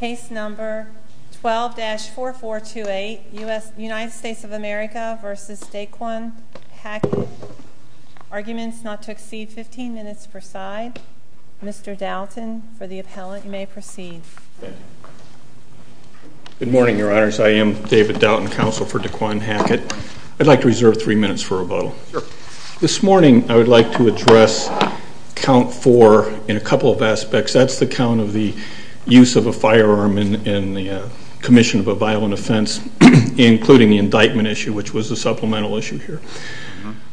Case number 12-4428, United States of America v. Daquann Hackett. Arguments not to exceed 15 minutes per side. Mr. Doughton, for the appellant, you may proceed. Good morning, your honors. I am David Doughton, counsel for Daquann Hackett. I'd like to reserve three minutes for rebuttal. Sure. This morning, I would like to address count four in a couple of aspects. That's the count of the use of a firearm in the commission of a violent offense, including the indictment issue, which was a supplemental issue here.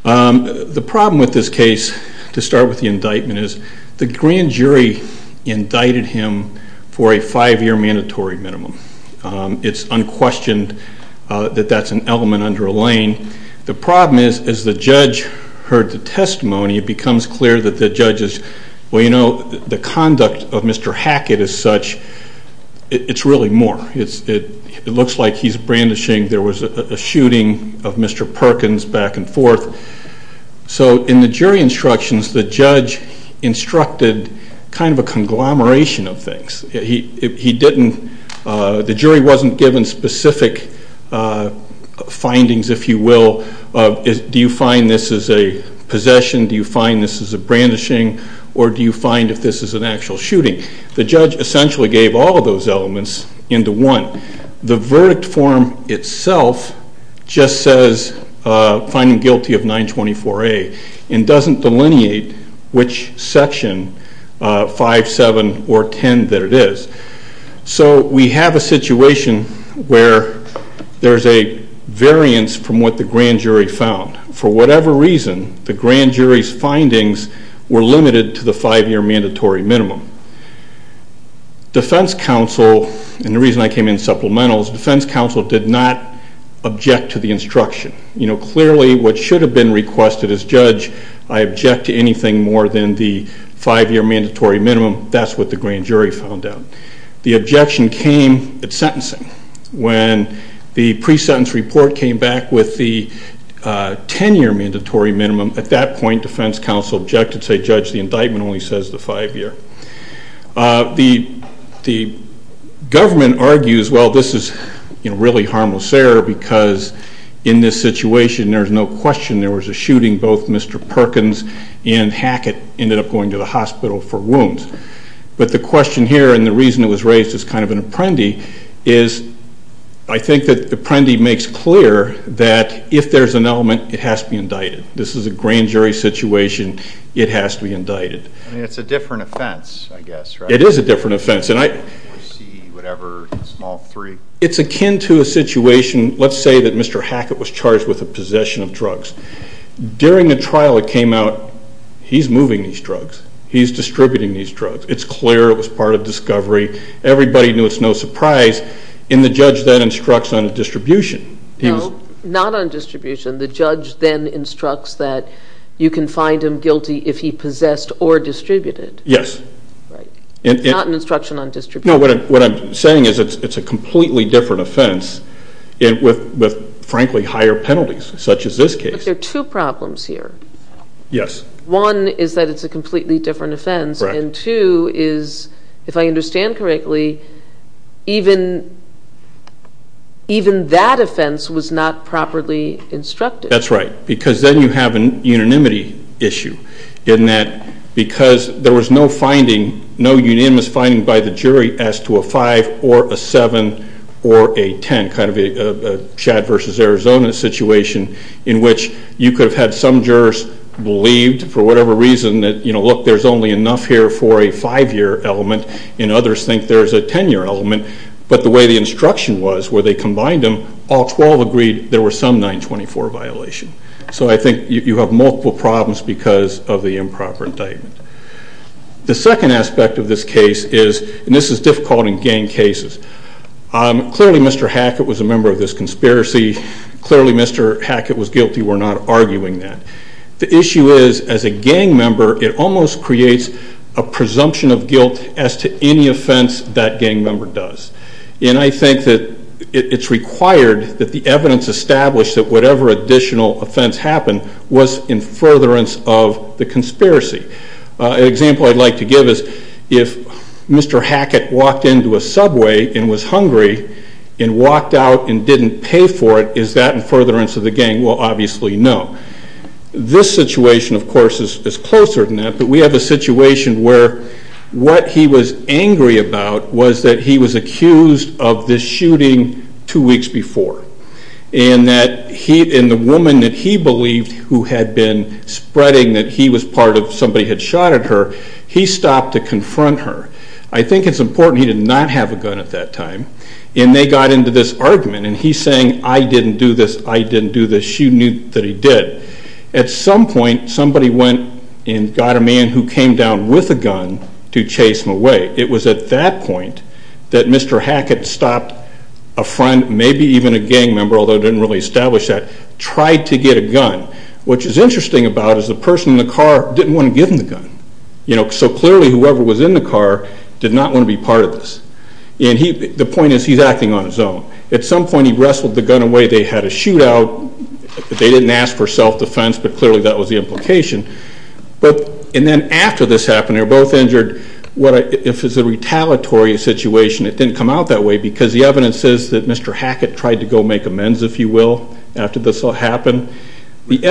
The problem with this case, to start with the indictment, is the grand jury indicted him for a five-year mandatory minimum. It's unquestioned that that's an element underlain. The problem is, as the judge heard the testimony, it becomes clear that the judge is, well, you know, the conduct of Mr. Hackett as such, it's really more. It looks like he's brandishing, there was a shooting of Mr. Perkins back and forth. So in the jury instructions, the judge instructed kind of a conglomeration of things. He didn't, the jury wasn't given specific findings, if you will. Do you find this is a possession? Do you find this is a brandishing? Or do you find if this is an actual shooting? The judge essentially gave all of those elements into one. The verdict form itself just says finding guilty of 924A and doesn't delineate which section, 5, 7, or 10 that it is. So we have a situation where there's a variance from what the grand jury found. For whatever reason, the grand jury's findings were limited to the five-year mandatory minimum. Defense counsel, and the reason I came in supplemental, is defense counsel did not object to the instruction. You know, clearly what should have been requested as judge, I object to anything more than the five-year mandatory minimum. That's what the grand jury found out. The objection came at sentencing. When the pre-sentence report came back with the 10-year mandatory minimum, at that point, defense counsel objected and said, Judge, the indictment only says the five-year. The government argues, well, this is really harmless error because in this situation, there's no question there was a shooting. Both Mr. Perkins and Hackett ended up going to the hospital for wounds. But the question here, and the reason it was raised as kind of an apprendi, is I think that the apprendi makes clear that if there's an element, it has to be indicted. This is a grand jury situation. It has to be indicted. I mean, it's a different offense, I guess, right? It is a different offense. C, whatever, small three. It's akin to a situation, let's say that Mr. Hackett was charged with the possession of drugs. During the trial, it came out, he's moving these drugs. He's distributing these drugs. It's clear it was part of discovery. Everybody knew it's no surprise. And the judge then instructs on distribution. No, not on distribution. The judge then instructs that you can find him guilty if he possessed or distributed. Yes. Right. Not an instruction on distribution. No, what I'm saying is it's a completely different offense with, frankly, higher penalties, such as this case. But there are two problems here. Yes. One is that it's a completely different offense. And two is, if I understand correctly, even that offense was not properly instructed. That's right. Because then you have a unanimity issue in that because there was no finding, no unanimous finding by the jury as to a 5 or a 7 or a 10, kind of a Chad versus Arizona situation in which you could have had some jurors believed, for whatever reason, that, you know, look, there's only enough here for a 5-year element, and others think there's a 10-year element. But the way the instruction was where they combined them, all 12 agreed there was some 924 violation. So I think you have multiple problems because of the improper indictment. The second aspect of this case is, and this is difficult in gang cases, clearly Mr. Hackett was a member of this conspiracy. Clearly Mr. Hackett was guilty. We're not arguing that. The issue is, as a gang member, it almost creates a presumption of guilt as to any offense that gang member does. And I think that it's required that the evidence establish that whatever additional offense happened was in furtherance of the conspiracy. An example I'd like to give is if Mr. Hackett walked into a subway and was hungry and walked out and didn't pay for it, is that in furtherance of the gang? Well, obviously no. This situation, of course, is closer than that, but we have a situation where what he was angry about was that he was accused of this shooting two weeks before. And the woman that he believed who had been spreading that he was part of, somebody had shot at her, he stopped to confront her. I think it's important he did not have a gun at that time. And they got into this argument, and he's saying, I didn't do this, I didn't do this. But she knew that he did. At some point, somebody went and got a man who came down with a gun to chase him away. It was at that point that Mr. Hackett stopped a friend, maybe even a gang member, although it didn't really establish that, tried to get a gun. What's interesting about it is the person in the car didn't want to give him the gun. So clearly whoever was in the car did not want to be part of this. And the point is, he's acting on his own. At some point he wrestled the gun away. They had a shootout. They didn't ask for self-defense, but clearly that was the implication. And then after this happened, they were both injured. If it's a retaliatory situation, it didn't come out that way, because the evidence says that Mr. Hackett tried to go make amends, if you will, after this all happened with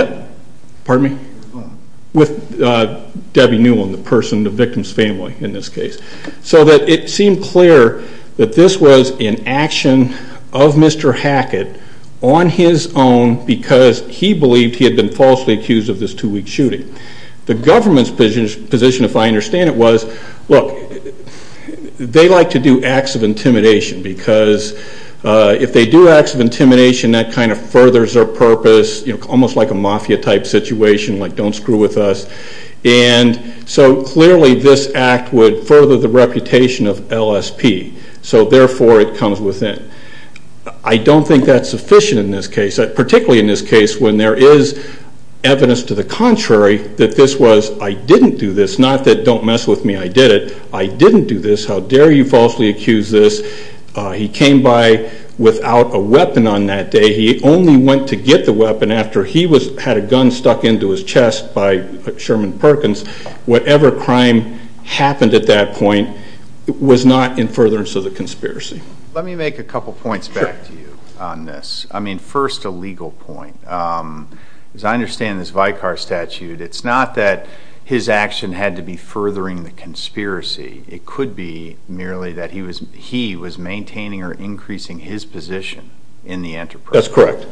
Debbie Newland, the person, the victim's family in this case. So it seemed clear that this was an action of Mr. Hackett on his own because he believed he had been falsely accused of this two-week shooting. The government's position, if I understand it, was, look, they like to do acts of intimidation, because if they do acts of intimidation, that kind of furthers their purpose, almost like a mafia-type situation, like, don't screw with us. And so clearly this act would further the reputation of LSP, so therefore it comes within. I don't think that's sufficient in this case, particularly in this case when there is evidence to the contrary that this was, I didn't do this, not that, don't mess with me, I did it. I didn't do this. How dare you falsely accuse this. He came by without a weapon on that day. He only went to get the weapon after he had a gun stuck into his chest by Sherman Perkins. Whatever crime happened at that point was not in furtherance of the conspiracy. Let me make a couple points back to you on this. I mean, first, a legal point. As I understand this Vicar Statute, it's not that his action had to be furthering the conspiracy. It could be merely that he was maintaining or increasing his position in the enterprise. That's correct.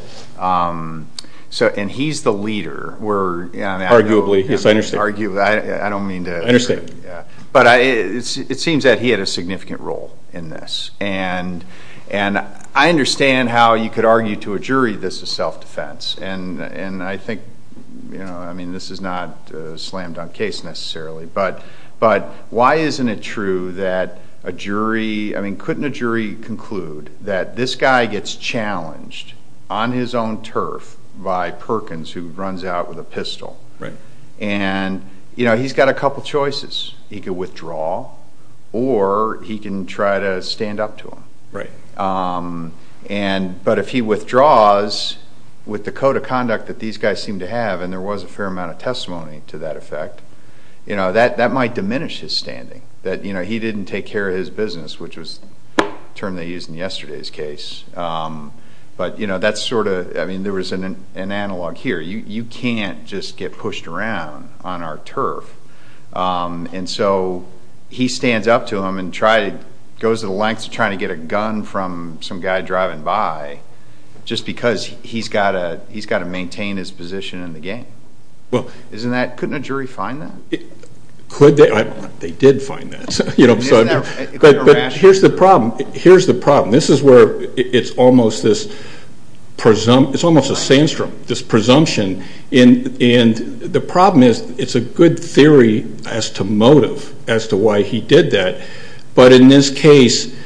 And he's the leader. Arguably. Yes, I understand. Arguably. I don't mean to. I understand. But it seems that he had a significant role in this. And I understand how you could argue to a jury this is self-defense. And I think, you know, I mean, this is not a slam-dunk case necessarily. But why isn't it true that a jury, I mean, couldn't a jury conclude that this guy gets challenged on his own turf by Perkins who runs out with a pistol? Right. And, you know, he's got a couple choices. He could withdraw or he can try to stand up to him. Right. But if he withdraws with the code of conduct that these guys seem to have, and there was a fair amount of testimony to that effect, you know, that might diminish his standing that, you know, he didn't take care of his business, which was the term they used in yesterday's case. But, you know, that's sort of, I mean, there was an analog here. You can't just get pushed around on our turf. And so he stands up to him and goes to the lengths of trying to get a gun from some guy driving by just because he's got to maintain his position in the game. Couldn't a jury find that? Could they? They did find that. But here's the problem. Here's the problem. This is where it's almost this presumption. It's almost a sandstorm, this presumption. And the problem is it's a good theory as to motive as to why he did that. But in this case,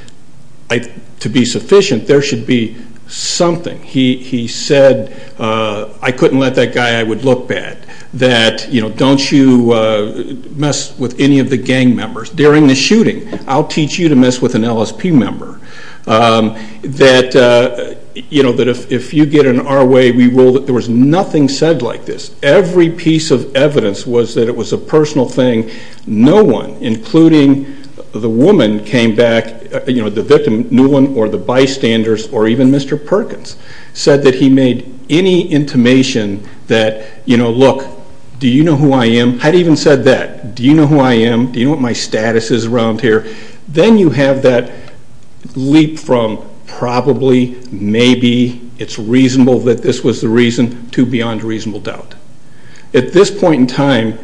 to be sufficient, there should be something. He said, I couldn't let that guy, I would look bad. That, you know, don't you mess with any of the gang members during the shooting. I'll teach you to mess with an LSP member. That, you know, that if you get in our way, we will. There was nothing said like this. Every piece of evidence was that it was a personal thing. No one, including the woman came back, you know, the victim, Newland, or the bystanders, or even Mr. Perkins, said that he made any intimation that, you know, look, do you know who I am? I'd even said that. Do you know who I am? Do you know what my status is around here? Then you have that leap from probably, maybe, it's reasonable that this was the reason to beyond reasonable doubt. At this point in time,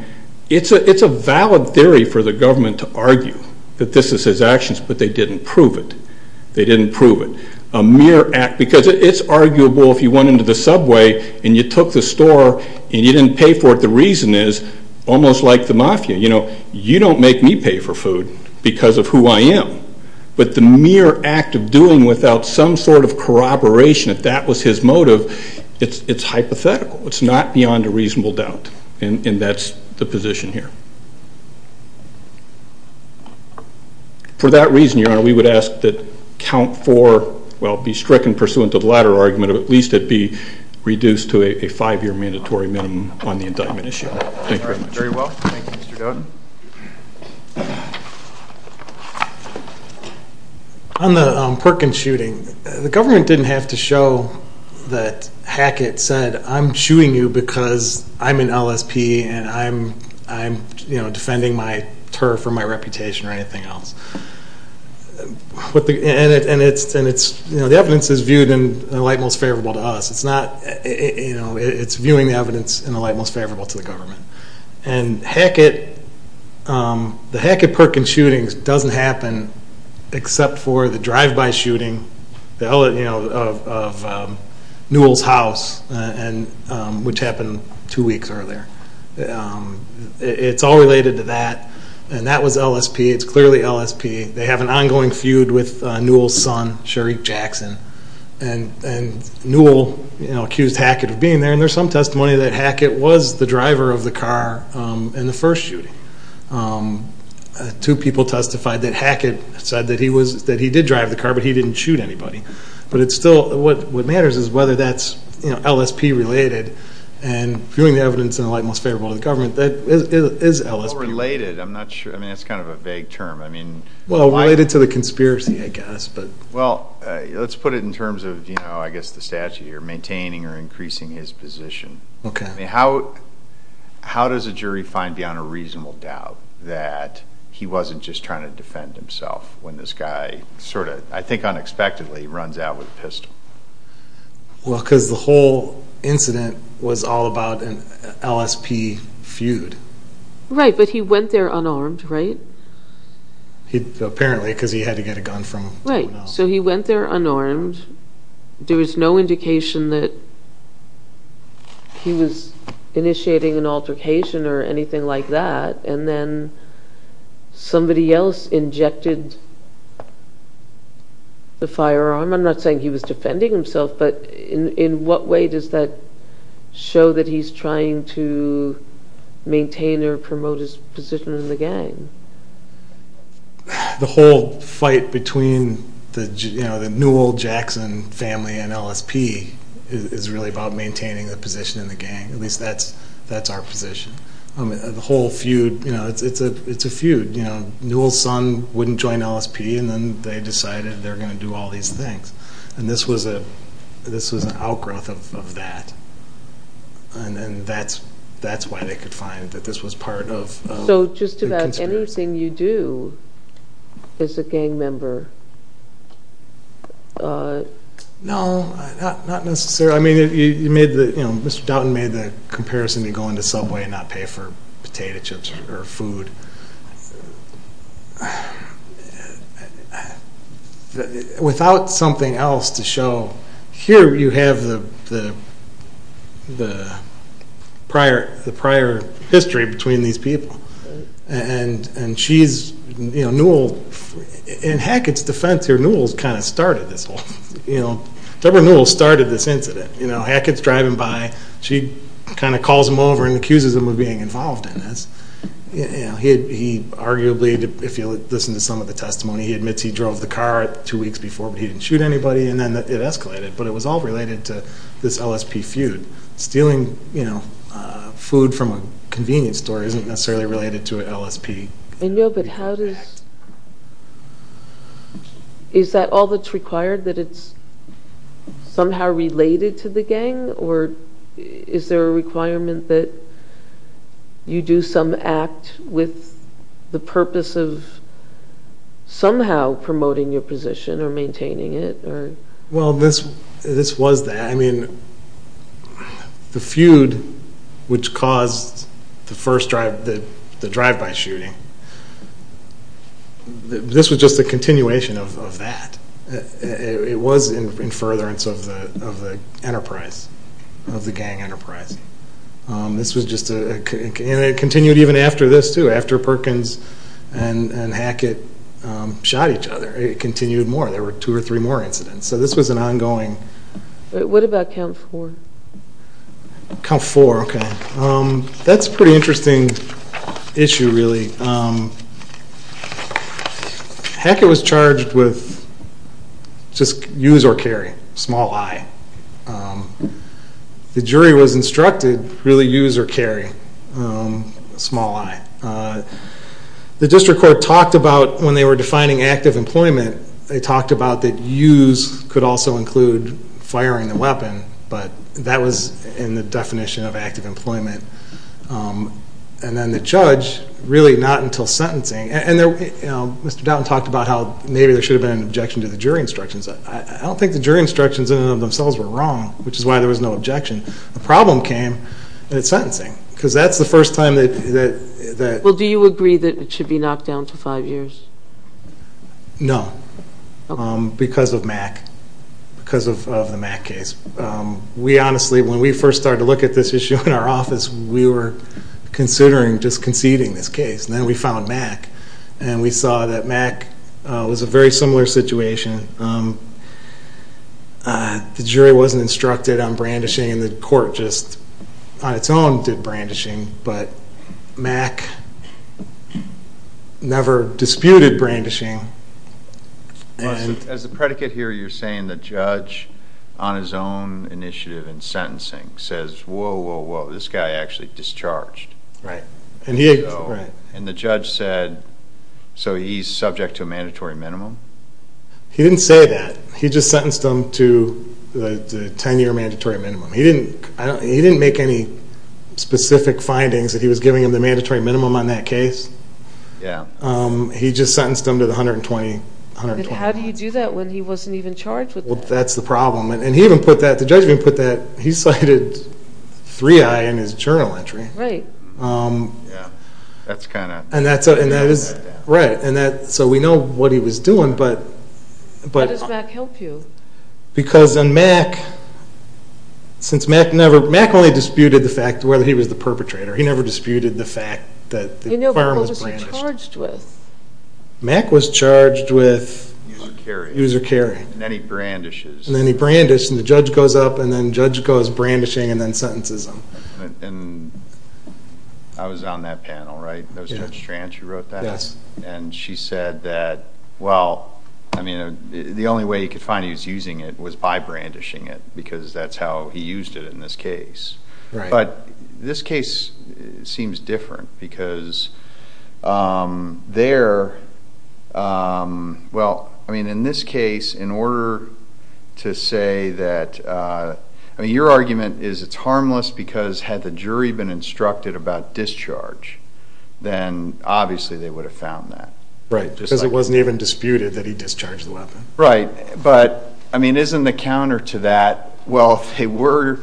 it's a valid theory for the government to argue that this is his actions, but they didn't prove it. They didn't prove it. A mere act, because it's arguable if you went into the subway and you took the store and you didn't pay for it. The reason is, almost like the mafia, you know, you don't make me pay for food because of who I am. But the mere act of doing without some sort of corroboration, if that was his motive, it's hypothetical. It's not beyond a reasonable doubt, and that's the position here. For that reason, Your Honor, we would ask that count four, well, be stricken pursuant to the latter argument, or at least it be reduced to a five-year mandatory minimum on the indictment issue. Thank you very much. Very well. Thank you, Mr. Dodd. On the Perkins shooting, the government didn't have to show that Hackett said, I'm shooting you because I'm an LSP and I'm, you know, defending my turf or my reputation or anything else. And it's, you know, the evidence is viewed in the light most favorable to us. It's not, you know, it's viewing the evidence in the light most favorable to the government. And Hackett, the Hackett-Perkins shooting doesn't happen except for the drive-by shooting of Newell's house, which happened two weeks earlier. It's all related to that, and that was LSP. It's clearly LSP. They have an ongoing feud with Newell's son, Shareek Jackson, and Newell, you know, accused Hackett of being there. And there's some testimony that Hackett was the driver of the car in the first shooting. Two people testified that Hackett said that he did drive the car, but he didn't shoot anybody. But it's still what matters is whether that's, you know, LSP-related. And viewing the evidence in the light most favorable to the government, that is LSP. Well, related, I'm not sure. I mean, that's kind of a vague term. Well, related to the conspiracy, I guess. Well, let's put it in terms of, you know, I guess the statute here, maintaining or increasing his position. How does a jury find beyond a reasonable doubt that he wasn't just trying to defend himself when this guy sort of, I think unexpectedly, runs out with a pistol? Well, because the whole incident was all about an LSP feud. Right, but he went there unarmed, right? Apparently, because he had to get a gun from someone else. Right, so he went there unarmed. There was no indication that he was initiating an altercation or anything like that. And then somebody else injected the firearm. I'm not saying he was defending himself, but in what way does that show that he's trying to maintain or promote his position in the gang? The whole fight between the Newell-Jackson family and LSP is really about maintaining a position in the gang. At least that's our position. The whole feud, you know, it's a feud. Newell's son wouldn't join LSP, and then they decided they were going to do all these things. And this was an outgrowth of that. And that's why they could find that this was part of the conspiracy. So just about anything you do as a gang member? No, not necessarily. I mean, Mr. Doughton made the comparison to going to Subway and not pay for potato chips or food. Without something else to show, here you have the prior history between these people. And she's, you know, Newell, in Hackett's defense here, Newell's kind of started this whole thing. Deborah Newell started this incident. Hackett's driving by, she kind of calls him over and accuses him of being involved in this. He arguably, if you listen to some of the testimony, he admits he drove the car two weeks before, but he didn't shoot anybody, and then it escalated. But it was all related to this LSP feud. Stealing, you know, food from a convenience store isn't necessarily related to LSP. I know, but how does... Is that all that's required, that it's somehow related to the gang? Or is there a requirement that you do some act with the purpose of somehow promoting your position or maintaining it? Well, this was that. I mean, the feud which caused the first drive-by shooting, this was just a continuation of that. It was in furtherance of the enterprise, of the gang enterprise. This was just a...and it continued even after this, too. After Perkins and Hackett shot each other, it continued more. There were two or three more incidents. So this was an ongoing... What about Camp 4? Camp 4, okay. That's a pretty interesting issue, really. Hackett was charged with just use or carry, small i. The jury was instructed really use or carry, small i. The district court talked about when they were defining active employment, they talked about that use could also include firing the weapon, but that was in the definition of active employment. And then the judge, really not until sentencing. And Mr. Doughton talked about how maybe there should have been an objection to the jury instructions. I don't think the jury instructions in and of themselves were wrong, which is why there was no objection. The problem came at sentencing, because that's the first time that... Well, do you agree that it should be knocked down to five years? No, because of MAC, because of the MAC case. We honestly, when we first started to look at this issue in our office, we were considering just conceding this case. And then we found MAC, and we saw that MAC was a very similar situation. The jury wasn't instructed on brandishing, and the court just on its own did brandishing. But MAC never disputed brandishing. As the predicate here, you're saying the judge on his own initiative in sentencing says, whoa, whoa, whoa, this guy actually discharged. Right. And the judge said, so he's subject to a mandatory minimum? He didn't say that. He just sentenced him to the 10-year mandatory minimum. He didn't make any specific findings that he was giving him the mandatory minimum on that case. Yeah. He just sentenced him to the 120 hours. How do you do that when he wasn't even charged with that? Well, that's the problem. And he even put that, the judge even put that, he cited 3I in his journal entry. Right. Yeah. That's kind of... And that is, right. So we know what he was doing, but... How does MAC help you? Because on MAC, since MAC never, MAC only disputed the fact whether he was the perpetrator. He never disputed the fact that the firearm was brandished. Who was he charged with? MAC was charged with... User carry. User carry. And then he brandishes. And then he brandished, and the judge goes up, and then the judge goes brandishing and then sentences him. And I was on that panel, right? That was Judge Trant who wrote that? Yes. And she said that, well, I mean, the only way he could find he was using it was by brandishing it, because that's how he used it in this case. Right. But this case seems different because there, well, I mean, in this case, in order to say that, I mean, your argument is it's harmless because had the jury been instructed about discharge, then obviously they would have found that. Right. Because it wasn't even disputed that he discharged the weapon. Right. But, I mean, isn't the counter to that? Well, if they were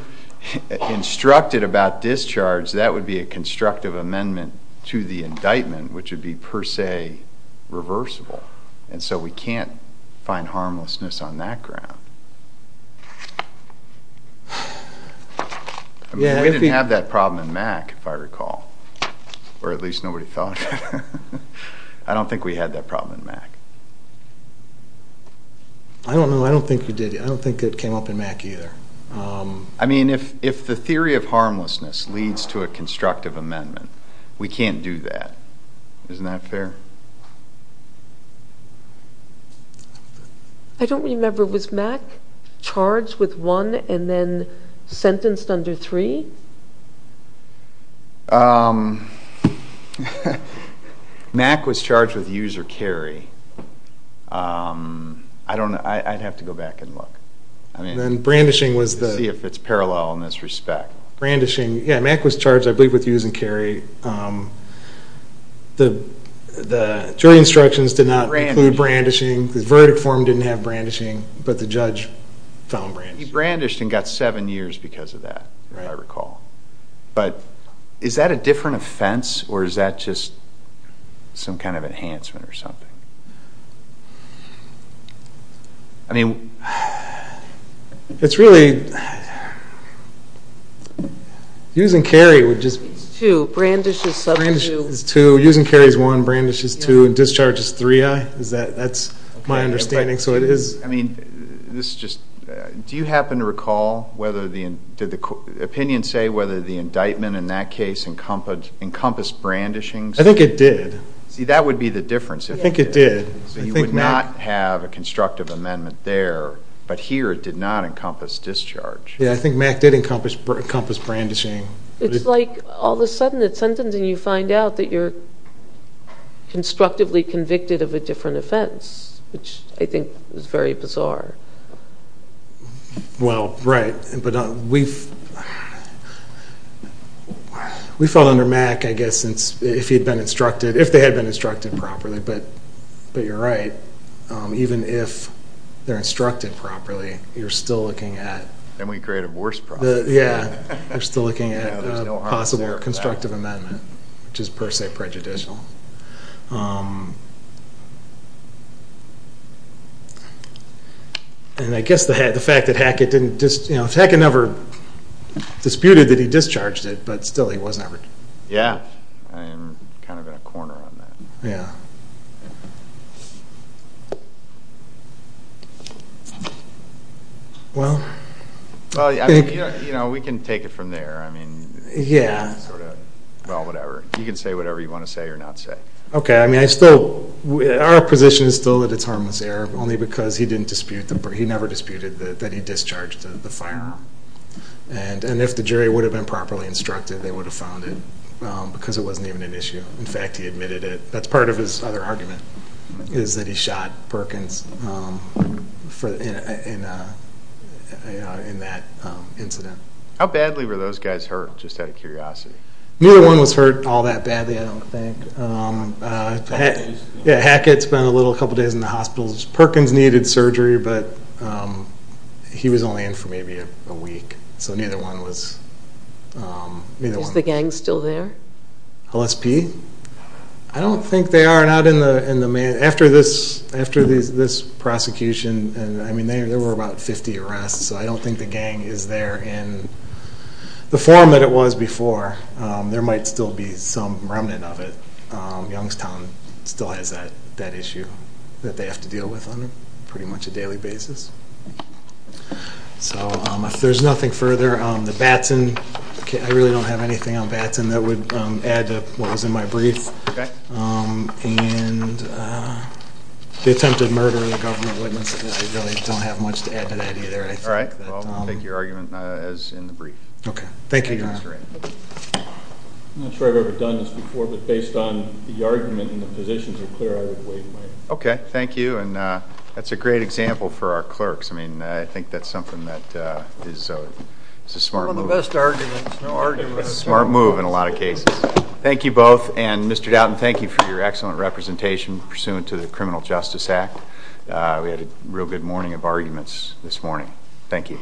instructed about discharge, that would be a constructive amendment to the indictment, which would be per se reversible. And so we can't find harmlessness on that ground. I mean, we didn't have that problem in MAC, if I recall, or at least nobody thought. I don't think we had that problem in MAC. I don't know. I don't think we did. I don't think it came up in MAC either. I mean, if the theory of harmlessness leads to a constructive amendment, we can't do that. Isn't that fair? I don't remember. Was MAC charged with one and then sentenced under three? MAC was charged with user carry. I don't know. I'd have to go back and look to see if it's parallel in this respect. Brandishing. Yeah, MAC was charged, I believe, with user carry. The jury instructions did not include brandishing. The verdict form didn't have brandishing, but the judge found brandishing. He brandished and got seven years because of that, if I recall. But is that a different offense or is that just some kind of enhancement or something? I mean, it's really using carry would just be two. Brandish is two. Brandish is two. Using carry is one. Brandish is two. Discharge is three. That's my understanding. So it is. I mean, do you happen to recall, did the opinion say whether the indictment in that case encompassed brandishing? I think it did. See, that would be the difference. I think it did. So you would not have a constructive amendment there, but here it did not encompass discharge. Yeah, I think MAC did encompass brandishing. It's like all of a sudden at sentencing you find out that you're constructively convicted of a different offense, which I think is very bizarre. Well, right. We fell under MAC, I guess, if they had been instructed properly. But you're right. Even if they're instructed properly, you're still looking at a possible constructive amendment, which is per se prejudicial. And I guess the fact that Hackett didn't just, you know, if Hackett never disputed that he discharged it, but still he was never. Yeah, I'm kind of in a corner on that. Yeah. Well. Well, you know, we can take it from there. I mean. Yeah. Sort of, well, whatever. You can say whatever you want to say or not say. Okay. I mean, our position is still that it's harmless error, only because he never disputed that he discharged the firearm. And if the jury would have been properly instructed, they would have found it because it wasn't even an issue. In fact, he admitted it. That's part of his other argument is that he shot Perkins in that incident. How badly were those guys hurt, just out of curiosity? Neither one was hurt all that badly, I don't think. Yeah, Hackett spent a couple days in the hospital. Perkins needed surgery, but he was only in for maybe a week. So neither one was. Is the gang still there? LSP? I don't think they are. After this prosecution, I mean, there were about 50 arrests, so I don't think the gang is there in the form that it was before. There might still be some remnant of it. Youngstown still has that issue that they have to deal with on pretty much a daily basis. So if there's nothing further, the Batson case, I really don't have anything on Batson that would add to what was in my brief. And the attempted murder of the government witness, I really don't have much to add to that either. All right. Well, I'll take your argument as in the brief. Okay. Thank you, Your Honor. I'm not sure I've ever done this before, but based on the argument and the positions are clear, I would wait. Okay, thank you. And that's a great example for our clerks. I mean, I think that's something that is a smart move. It's a smart move in a lot of cases. Thank you both. And Mr. Doughton, thank you for your excellent representation pursuant to the Criminal Justice Act. We had a real good morning of arguments this morning. Thank you.